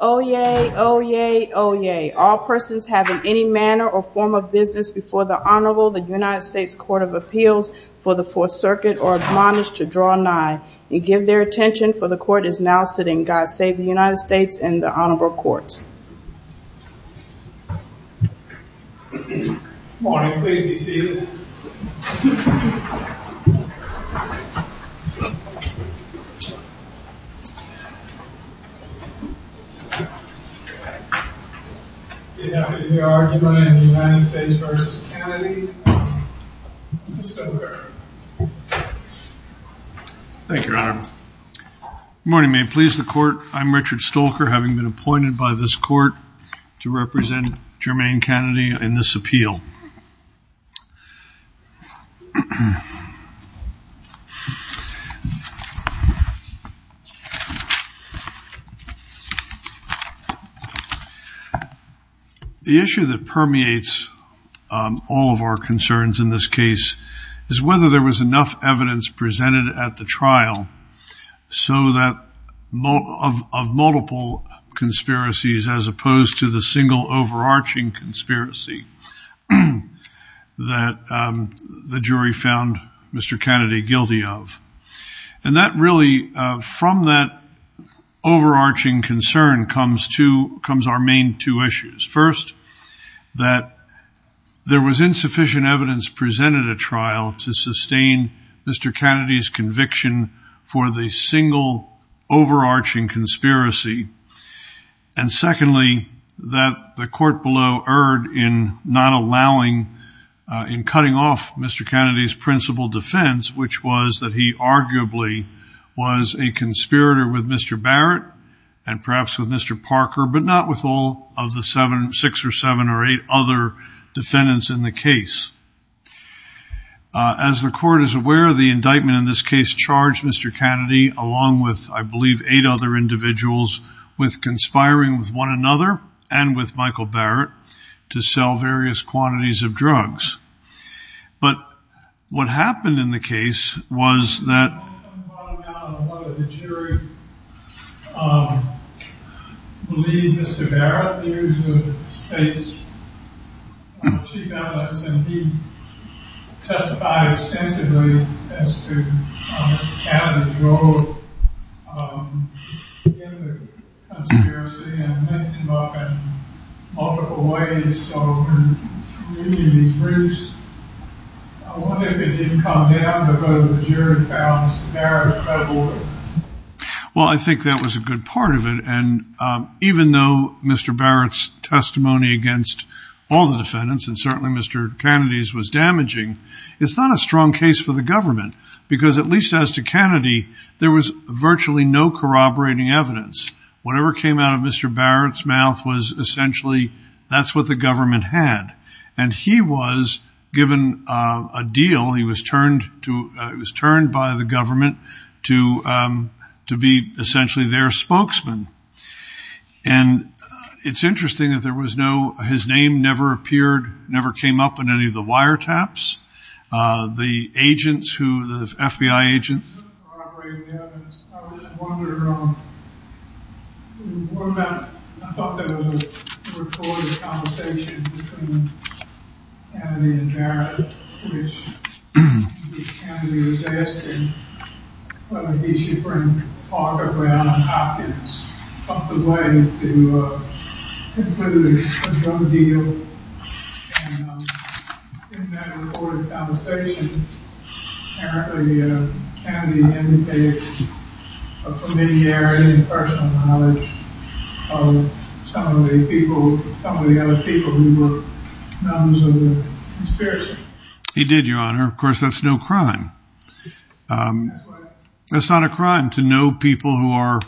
Oyez, oyez, oyez. All persons have in any manner or form of business before the Honorable the United States Court of Appeals for the Fourth Circuit are admonished to draw nigh and give their attention for the court is now sitting. God save the United States and the Honorable Courts. The argument in the United States v. Cannady. Mr. Stolker. Thank you, Your Honor. Good morning, may it please the court. I'm Richard Stolker having been appointed by this court to represent Germaine Cannady in this appeal. The issue that permeates all of our concerns in this case is whether there was enough evidence presented at the trial so that of multiple conspiracies as opposed to the single overarching conspiracy that the jury found Mr. Cannady guilty of. And that really from that overarching concern comes to comes our main two issues. First that there was insufficient evidence presented at trial to sustain Mr. Cannady's conviction for the single overarching conspiracy. And secondly that the court below erred in not allowing in cutting off Mr. Cannady's principal defense which was that he arguably was a conspirator with Mr. Barrett and perhaps Mr. Parker but not with all of the seven six or seven or eight other defendants in the case. As the court is aware the indictment in this case charged Mr. Cannady along with I believe eight other individuals with conspiring with one another and with Michael Barrett to sell various quantities of drugs. But what I think that was a good part of it and even though Mr. Barrett's testimony against all the defendants and certainly Mr. Cannady's was damaging it's not a strong case for the government because at least as to Cannady there was virtually no corroborating evidence. Whatever came out of Mr. Barrett's mouth was essentially that's what the government had and he was given a deal he was turned to it was turned by the spokesman. And it's interesting that there was no his name never appeared never came up in any of the wiretaps. The agents who the FBI agents. He did your honor of course that's no crime. That's not a crime to know people who are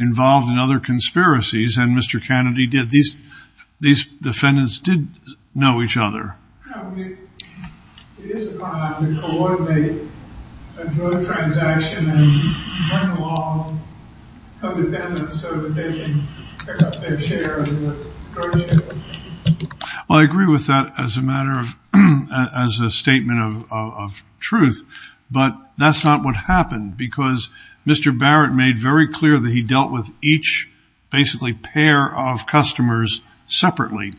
involved in other conspiracies and Mr. Cannady did these these defendants did know each other. Well I agree with that as a matter of as a statement of truth but that's not what happened because Mr. Barrett made very clear that he dealt with each basically pair of customers separately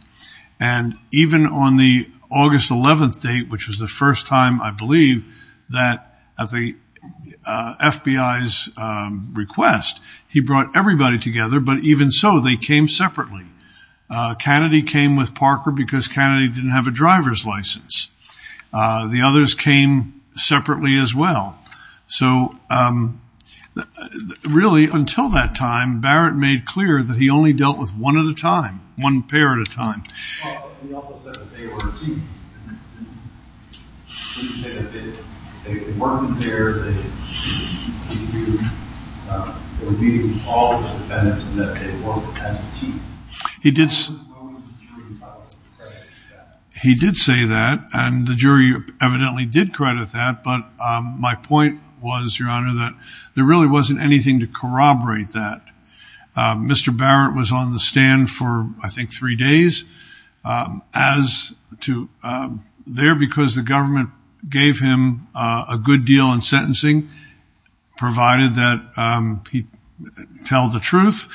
and even on the August 11th date which is the first time I believe that at the FBI's request he brought everybody together but even so they came separately. Cannady came with Parker because Cannady didn't have a driver's license. The really until that time Barrett made clear that he only dealt with one at a time one pair at a time. He did say that and the jury evidently did credit that but my point was your honor that there really wasn't anything to corroborate that. Mr. Barrett was on the stand for I think three days as to there because the government gave him a good deal in sentencing provided that he tell the truth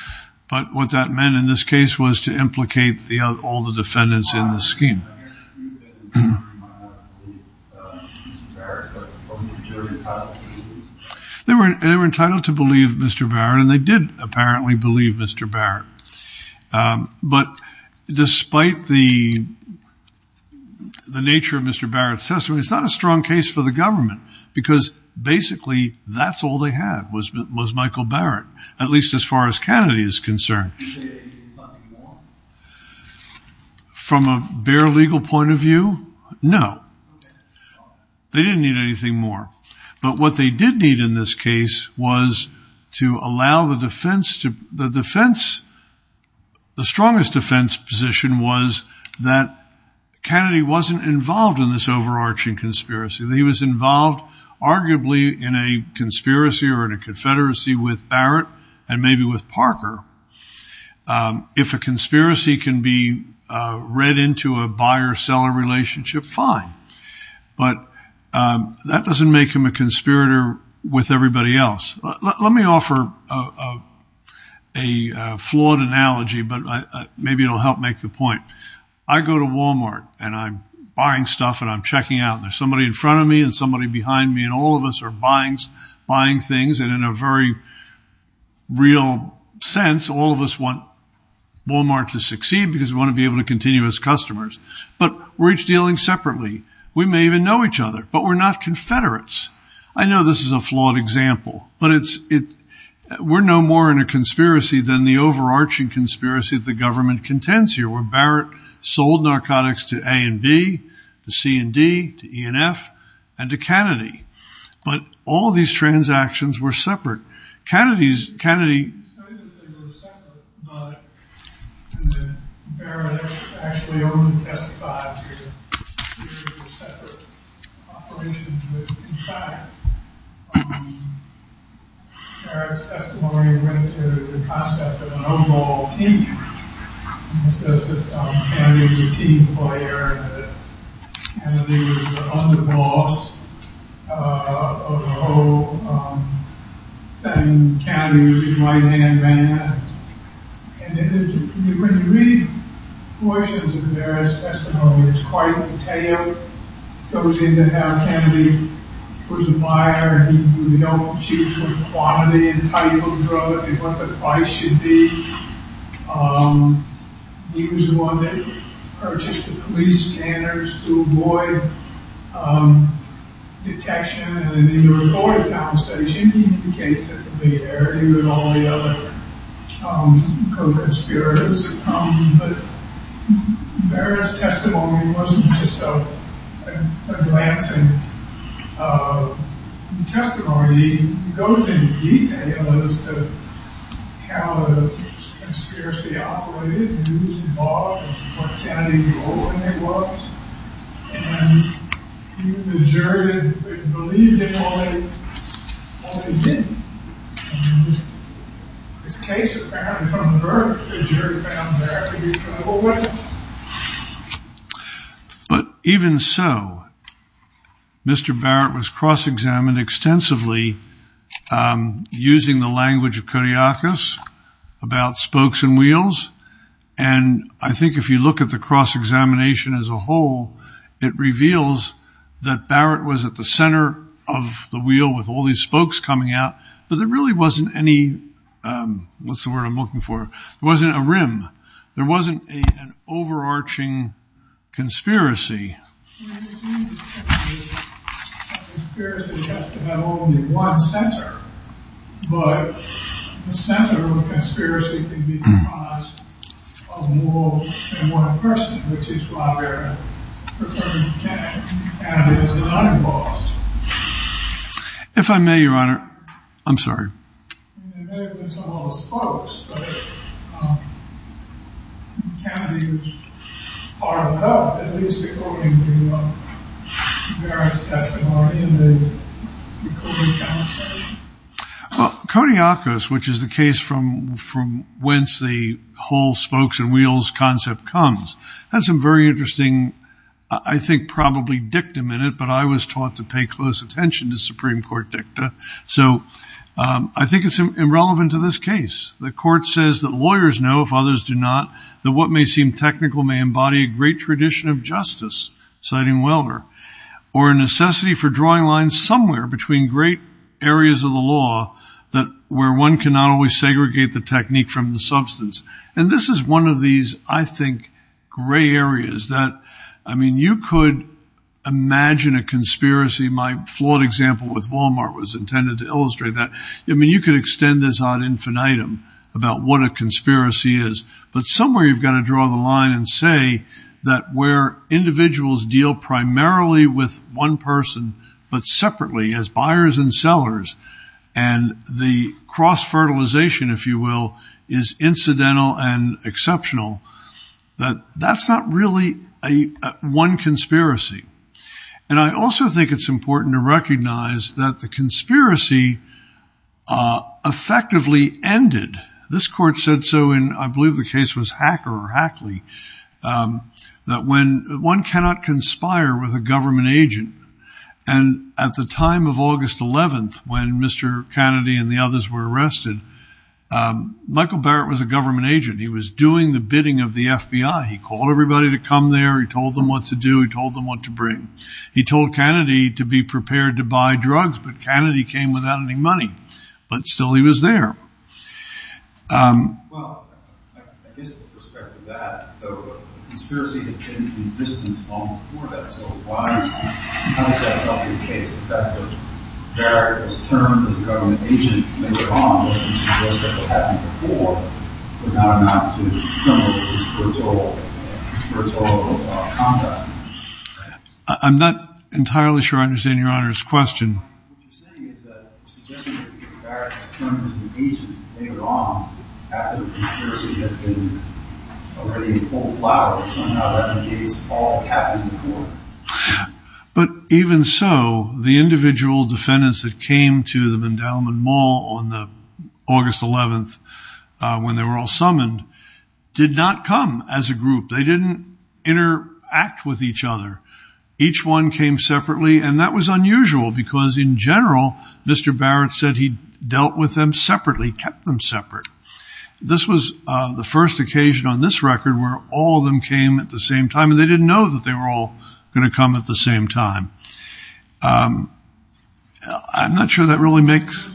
but what that meant in this case was to implicate the all the defendants in the scheme. They were entitled to believe Mr. Barrett and they did apparently believe Mr. Barrett but despite the the nature of Mr. Barrett's testimony it's not a strong case for the government because basically that's all they had was Michael Barrett at least as far as Kennedy is concerned. From a bare legal point of view no they didn't need anything more but what they did need in this case was to allow the defense to the defense the strongest defense position was that Kennedy wasn't involved in this overarching conspiracy. He was involved arguably in a conspiracy or in a confederacy with Barrett and maybe with Parker. If a conspiracy can be read into a buyer-seller relationship fine but that doesn't make him a conspirator with everybody else. Let me offer a flawed analogy but maybe it'll help make the point. I go to Walmart and I'm buying stuff and I'm checking out there's somebody in front of me and somebody behind me and all of us are buying things and in a very real sense all of us want Walmart to succeed because we want to be able to We may even know each other but we're not confederates. I know this is a flawed example but it's it we're no more in a conspiracy than the overarching conspiracy of the government contends here where Barrett sold narcotics to A and B, to C and D, to E and F and to Kennedy but all these transactions were separate. In fact, Barrett's testimony went to the concept of an overall team. He says that Kennedy was a team player and that Kennedy was the underboss of the whole thing. Kennedy was his right-hand man. When you read portions of Barrett's testimony, it's quite detailed. It goes into how Kennedy was a buyer. He didn't choose what quantity and type of drug, what the price should be. He was the one that purchased the police scanners to avoid detection. In the recorded conversation, he indicates that he was a billionaire and that all the other co-conspirators had come but Barrett's testimony wasn't just a glancing testimony. He goes into detail as to how the conspiracy operated, who was involved, and what Kennedy's role in it was. And even the jury didn't believe him. This case of Barrett from the Berk, the jury found Barrett to be trouble with. But even so, Mr. Barrett was cross-examined extensively using the language of Kodiakos about spokes and wheels and I think if you look at the cross-examination as a whole, it reveals that Barrett was at the center of the wheel with all these spokes coming out, but there really wasn't any, what's the word I'm looking for, there wasn't a rim, there wasn't an overarching conspiracy. The conspiracy has to have only one center, but the center of the conspiracy can be comprised of more than one person, which is why Barrett preferred Kennedy. Kennedy was not involved. If I may, Your Honor, I'm sorry. It may have been some of the spokes, but Kennedy was part of that, at least according to Barrett's testimony and the Kodiakos. Kodiakos, which is the case from whence the whole spokes and wheels concept comes, has a very interesting, I think probably dictum in it, but I was taught to pay close attention to Supreme Court dicta. So I think it's irrelevant to this case. The court says that lawyers know, if others do not, that what may seem technical may embody a great tradition of justice, citing Weller, or a necessity for drawing lines somewhere between great areas of the law where one cannot always segregate the technique from the substance. And this is one of these, I think, gray areas that, I mean, you could imagine a conspiracy, my flawed example with Walmart was intended to illustrate that. I mean, you could extend this ad infinitum about what a conspiracy is, but somewhere you've got to draw the line and say that where individuals deal primarily with one person, but separately as buyers and sellers, and the cross-fertilization, if you will, is incidental and exceptional, that that's not really one conspiracy. And I also think it's important to recognize that the conspiracy effectively ended. This court said so in, I believe the case was Hacker or Hackley, that when one cannot conspire with a government agent, and at the time of August 11th, when Mr. Kennedy and the others were arrested, Michael Barrett was a government agent. He was doing the bidding of the FBI. He called everybody to come there. He told them what to do. He told them what to bring. He told Kennedy to be prepared to buy drugs, but Kennedy came without any money. But still he was there. I'm not entirely sure I understand your honor's question. But even so, the individual defendants that came to the Mandelman Mall on August 11th, when they were all summoned, did not come as a group. They didn't interact with each other. Each one came separately, and that was unusual, because in general, Mr. Barrett said he dealt with them separately, kept them separate. This was the first occasion on this record where all of them came at the same time, and they didn't know that they were all going to come at the same time. I'm not sure that really makes...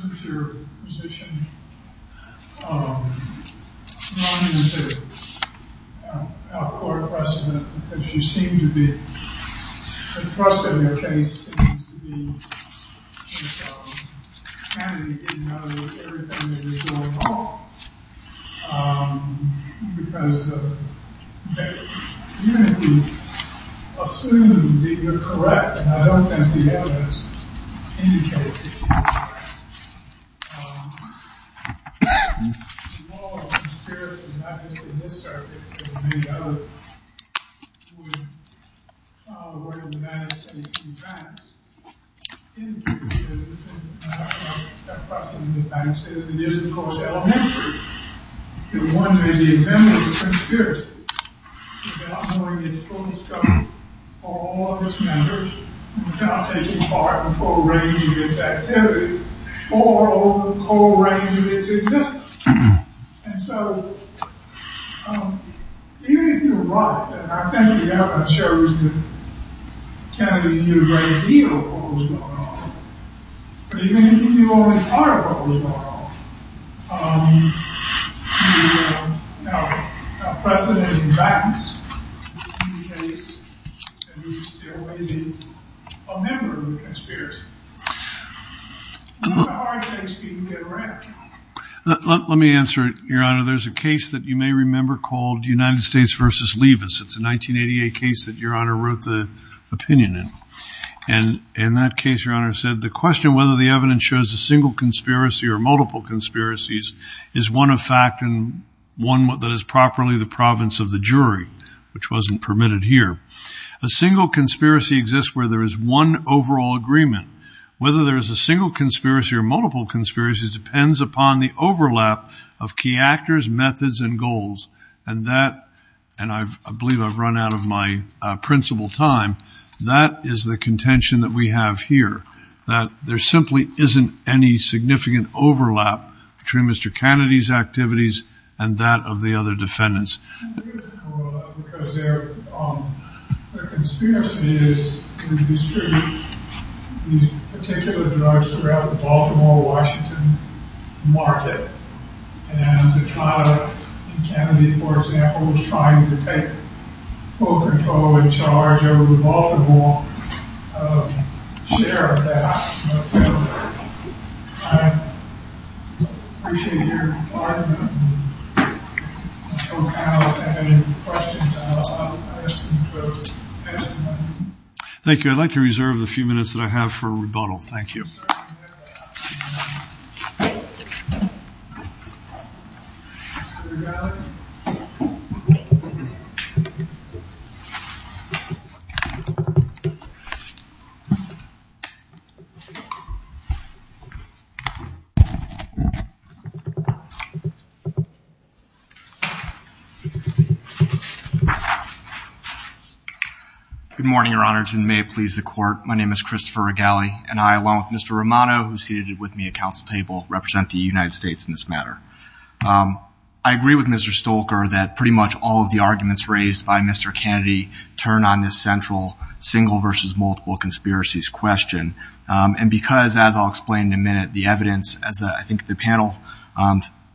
I don't think the evidence indicates it. The law of conspiracy, not just in this circuit, but in many others, would follow the words of the Manifestation of Facts. Indicative of the kind of person the Manifestation of Facts is, it is, of course, elementary. One may be a member of the Conspiracy without knowing its full scope, or all of its members, without taking part in the full range of its activities, or all of the full range of its existence. And so, even if you're right, and I think we have a chosen candidate who knew a great deal of what was going on, but even if you only thought about what was going on, you would know it. Now, precedent and facts indicate that you would still be a member of the Conspiracy. It's not a hard case for you to get around. Let me answer it, Your Honor. There's a case that you may remember called United States v. Levis. It's a 1988 case that Your Honor wrote the opinion in. And in that case, Your Honor said, the question whether the evidence shows a single conspiracy or multiple conspiracies is one of fact and one that is properly the province of the jury, which wasn't permitted here. A single conspiracy exists where there is one overall agreement. Whether there is a single conspiracy or multiple conspiracies depends upon the overlap of key actors, methods, and goals. And that, and I believe I've run out of my principal time, that is the contention that we have here, that there simply isn't any significant overlap between Mr. Kennedy's activities and that of the other defendants. I think there's an overlap because there are conspiracies to distribute these particular drugs throughout the Baltimore-Washington market. And the trial of Kennedy, for example, was trying to take full control and charge over the Baltimore share of that. I appreciate your hard work. If our panelists have any questions, I'll ask them to answer them. Thank you. I'd like to reserve the few minutes that I have for rebuttal. Thank you. Thank you. Good morning, Your Honors, and may it please the Court. My name is Christopher Regali, and I, along with Mr. Romano, who's seated with me at council table, represent the United States in this matter. I agree with Mr. Stolker that pretty much all of the arguments raised by Mr. Kennedy turn on this central single versus multiple conspiracies question. And because, as I'll explain in a minute, the evidence, as I think the panel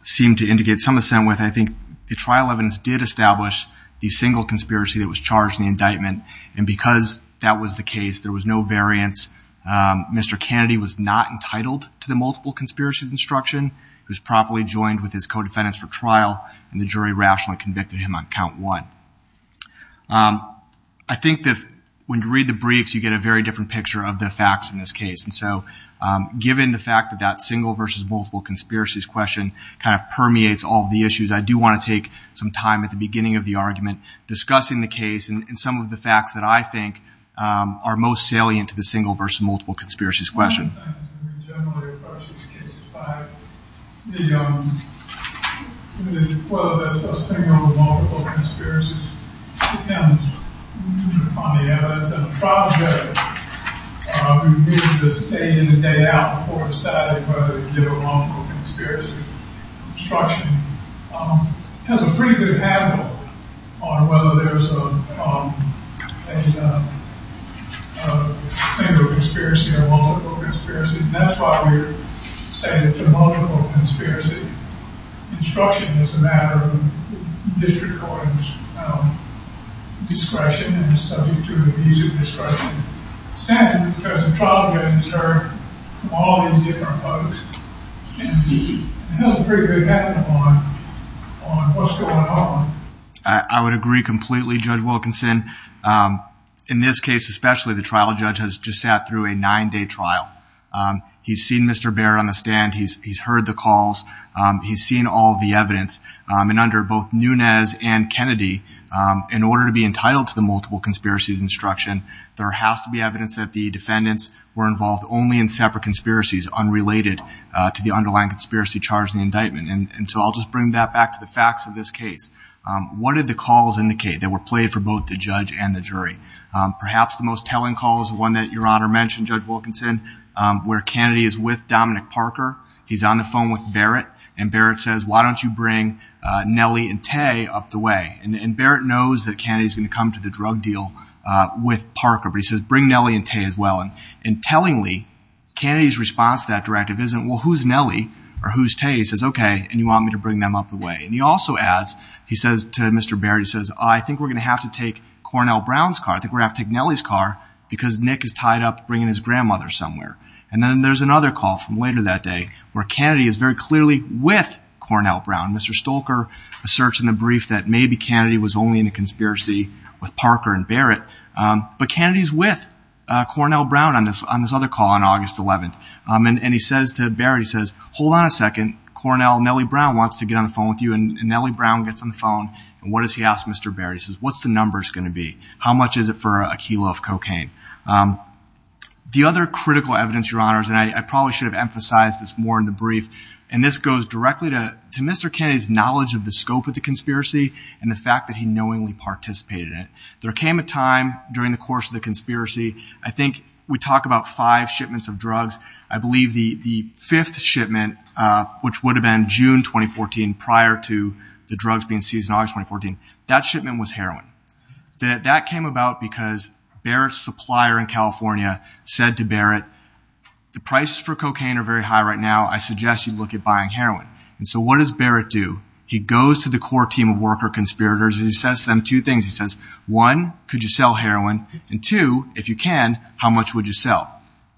seemed to indicate some assent with, I think the trial evidence did establish the single conspiracy that was charged in the indictment, and because that was the case, there was no variance. Mr. Kennedy was not entitled to the multiple conspiracies instruction. He was properly joined with his co-defendants for trial, and the jury rationally convicted him on count one. I think that when you read the briefs, you get a very different picture of the facts in this case. And so given the fact that that single versus multiple conspiracies question kind of permeates all of the issues, I do want to take some time at the beginning of the argument discussing the case and some of the facts that I think are most salient to the single versus multiple conspiracies question. A single conspiracy or multiple conspiracy, and that's why we say that the multiple conspiracy instruction is a matter of district court discretion and is subject to an easy discretion standard because the trial evidence are from all these different folks. And it has a pretty good effect on what's going on. I would agree completely, Judge Wilkinson. In this case especially, the trial judge has just sat through a nine-day trial. He's seen Mr. Barrett on the stand. He's heard the calls. He's seen all the evidence. And under both Nunes and Kennedy, in order to be entitled to the multiple conspiracies instruction, there has to be evidence that the defendants were involved only in separate conspiracies unrelated to the underlying conspiracy charge in the indictment. And so I'll just bring that back to the facts of this case. What did the calls indicate that were played for both the judge and the jury? Perhaps the most telling call is the one that Your Honor mentioned, Judge Wilkinson, where Kennedy is with Dominic Parker. He's on the phone with Barrett, and Barrett says, why don't you bring Nellie and Tay up the way? And Barrett knows that Kennedy's going to come to the drug deal with Parker, but he says, bring Nellie and Tay as well. And tellingly, Kennedy's response to that directive isn't, well, who's Nellie or who's Tay? He says, okay, and you want me to bring them up the way. And he also adds, he says to Mr. Barrett, he says, I think we're going to have to take Cornell Brown's car. I think we're going to have to take Nellie's car because Nick is tied up bringing his grandmother somewhere. And then there's another call from later that day where Kennedy is very clearly with Cornell Brown. Mr. Stolker asserts in the brief that maybe Kennedy was only in a conspiracy with Parker and Barrett. But Kennedy's with Cornell Brown on this other call on August 11th. And he says to Barrett, he says, hold on a second. Cornell, Nellie Brown wants to get on the phone with you. And Nellie Brown gets on the phone. And what does he ask Mr. Barrett? He says, what's the numbers going to be? How much is it for a kilo of cocaine? The other critical evidence, Your Honors, and I probably should have emphasized this more in the brief, and this goes directly to Mr. Kennedy's knowledge of the scope of the conspiracy and the fact that he knowingly participated in it. There came a time during the course of the conspiracy, I think we talk about five shipments of drugs. I believe the fifth shipment, which would have been June 2014 prior to the drugs being seized in August 2014, that shipment was heroin. That came about because Barrett's supplier in California said to Barrett, the prices for cocaine are very high right now. I suggest you look at buying heroin. And so what does Barrett do? He goes to the core team of worker conspirators. He says to them two things. He says, one, could you sell heroin? And two, if you can, how much would you sell?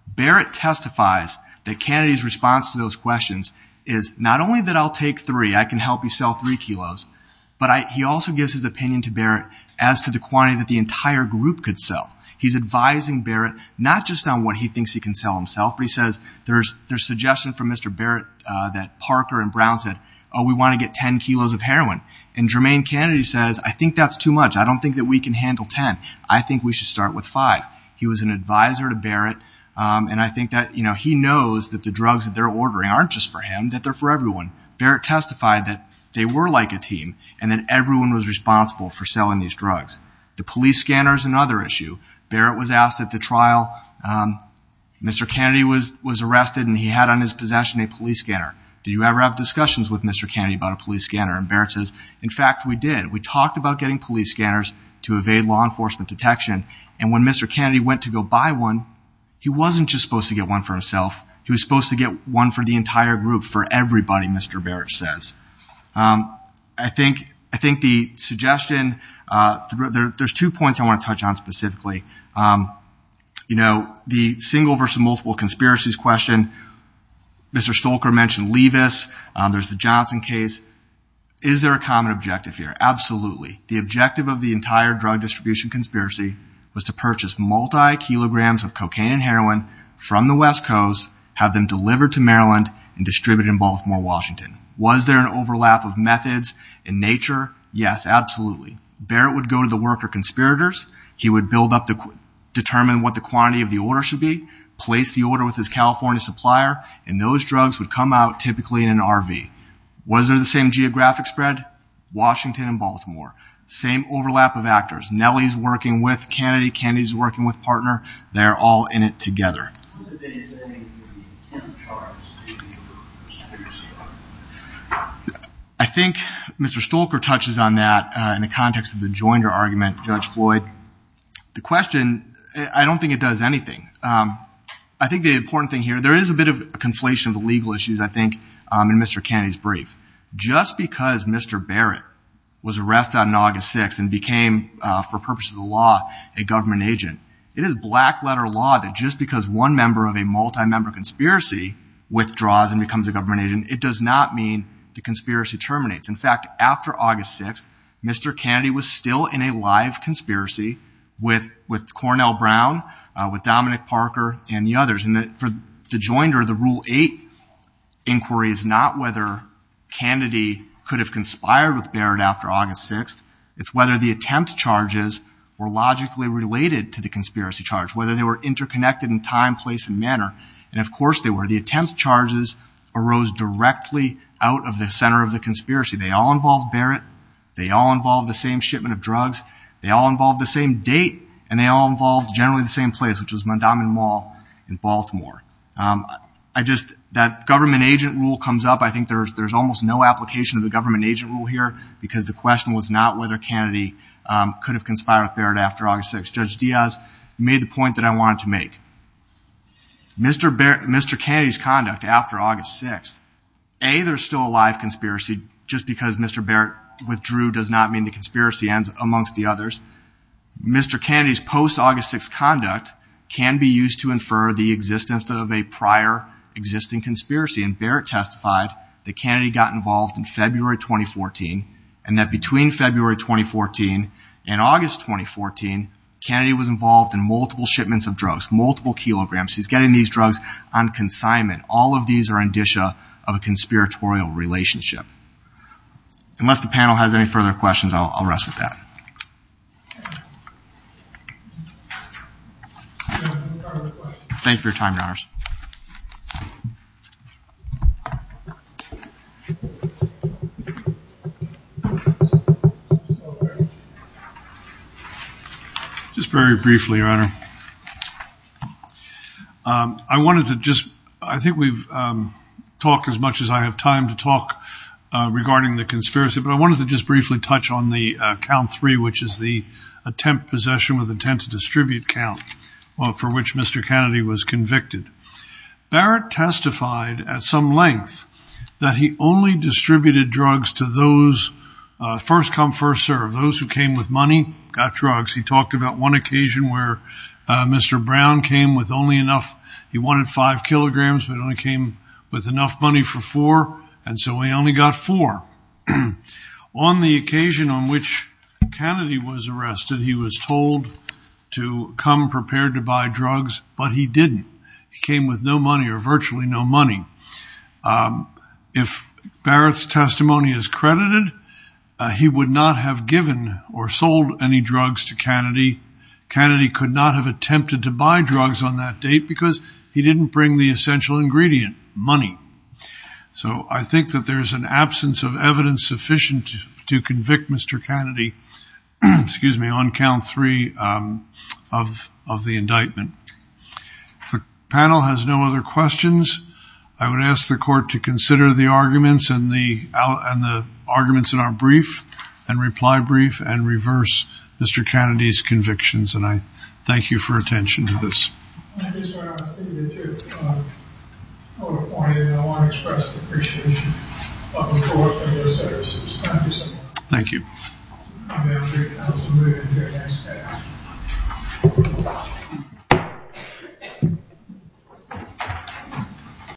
Barrett testifies that Kennedy's response to those questions is not only that I'll take three, I can help you sell three kilos, but he also gives his opinion to Barrett as to the quantity that the entire group could sell. He's advising Barrett not just on what he thinks he can sell himself, but he says there's suggestion from Mr. Barrett that Parker and Brown said, oh, we want to get 10 kilos of heroin. And Jermaine Kennedy says, I think that's too much. I don't think that we can handle 10. I think we should start with five. He was an advisor to Barrett, and I think that he knows that the drugs that they're ordering aren't just for him, that they're for everyone. Barrett testified that they were like a team and that everyone was responsible for selling these drugs. The police scanner is another issue. Barrett was asked at the trial, Mr. Kennedy was arrested, and he had on his possession a police scanner. Did you ever have discussions with Mr. Kennedy about a police scanner? And Barrett says, in fact, we did. We talked about getting police scanners to evade law enforcement detection, and when Mr. Kennedy went to go buy one, he wasn't just supposed to get one for himself. He was supposed to get one for the entire group, for everybody, Mr. Barrett says. I think the suggestion, there's two points I want to touch on specifically. You know, the single versus multiple conspiracies question, Mr. Stolker mentioned Levis, there's the Johnson case. Is there a common objective here? Absolutely. The objective of the entire drug distribution conspiracy was to purchase multi-kilograms of cocaine and heroin from the West Coast, have them delivered to Maryland, and distributed in Baltimore, Washington. Was there an overlap of methods in nature? Yes, absolutely. Barrett would go to the worker conspirators. He would build up the, determine what the quantity of the order should be, place the order with his California supplier, and those drugs would come out typically in an RV. Was there the same geographic spread? Washington and Baltimore. Same overlap of actors. Nellie's working with Kennedy, Kennedy's working with Partner. They're all in it together. What is the intent of the charge? I think Mr. Stolker touches on that in the context of the Joinder argument, Judge Floyd. The question, I don't think it does anything. I think the important thing here, there is a bit of a conflation of the legal issues, I think, in Mr. Kennedy's brief. Just because Mr. Barrett was arrested on August 6th and became, for purposes of the law, a government agent, it is black letter law that just because one member of a multi-member conspiracy withdraws and becomes a government agent, it does not mean the conspiracy terminates. In fact, after August 6th, Mr. Kennedy was still in a live conspiracy with Cornell Brown, with Dominic Parker, and the others. And for the Joinder, the Rule 8 inquiry is not whether Kennedy could have conspired with Barrett after August 6th. It's whether the attempt charges were logically related to the conspiracy charge, whether they were interconnected in time, place, and manner. And, of course, they were. The attempt charges arose directly out of the center of the conspiracy. They all involved Barrett. They all involved the same shipment of drugs. They all involved the same date. And they all involved generally the same place, which was Mondawmin Mall in Baltimore. I just, that government agent rule comes up. I think there's almost no application of the government agent rule here because the question was not whether Kennedy could have conspired with Barrett after August 6th. Judge Diaz made the point that I wanted to make. Mr. Kennedy's conduct after August 6th, A, there's still a live conspiracy just because Mr. Barrett withdrew does not mean the conspiracy ends amongst the others. Mr. Kennedy's post-August 6th conduct can be used to infer the existence of a prior existing conspiracy. And Barrett testified that Kennedy got involved in February 2014 and that between February 2014 and August 2014, Kennedy was involved in multiple shipments of drugs, multiple kilograms. He's getting these drugs on consignment. All of these are indicia of a conspiratorial relationship. Unless the panel has any further questions, I'll rest with that. Thank you for your time, Your Honors. I wanted to just, I think we've talked as much as I have time to talk regarding the conspiracy, but I wanted to just briefly touch on the count three, which is the attempt possession with intent to distribute count for which Mr. Kennedy was convicted. Barrett testified at some length that he only distributed drugs to those first come first serve. Those who came with money got drugs. He talked about one occasion where Mr. Brown came with only enough. He wanted five kilograms, but only came with enough money for four. And so he only got four. On the occasion on which Kennedy was arrested, he was told to come prepared to buy drugs, but he didn't. He came with no money or virtually no money. If Barrett's testimony is credited, he would not have given or sold any drugs to Kennedy. Kennedy could not have attempted to buy drugs on that date because he didn't bring the essential ingredient, money. So I think that there's an absence of evidence sufficient to convict Mr. Kennedy. Excuse me on count three of the indictment. The panel has no other questions. I would ask the court to consider the arguments and the, and the arguments in our brief and reply brief and reverse Mr. Kennedy's convictions. And I thank you for attention to this. Thank you. Thank you.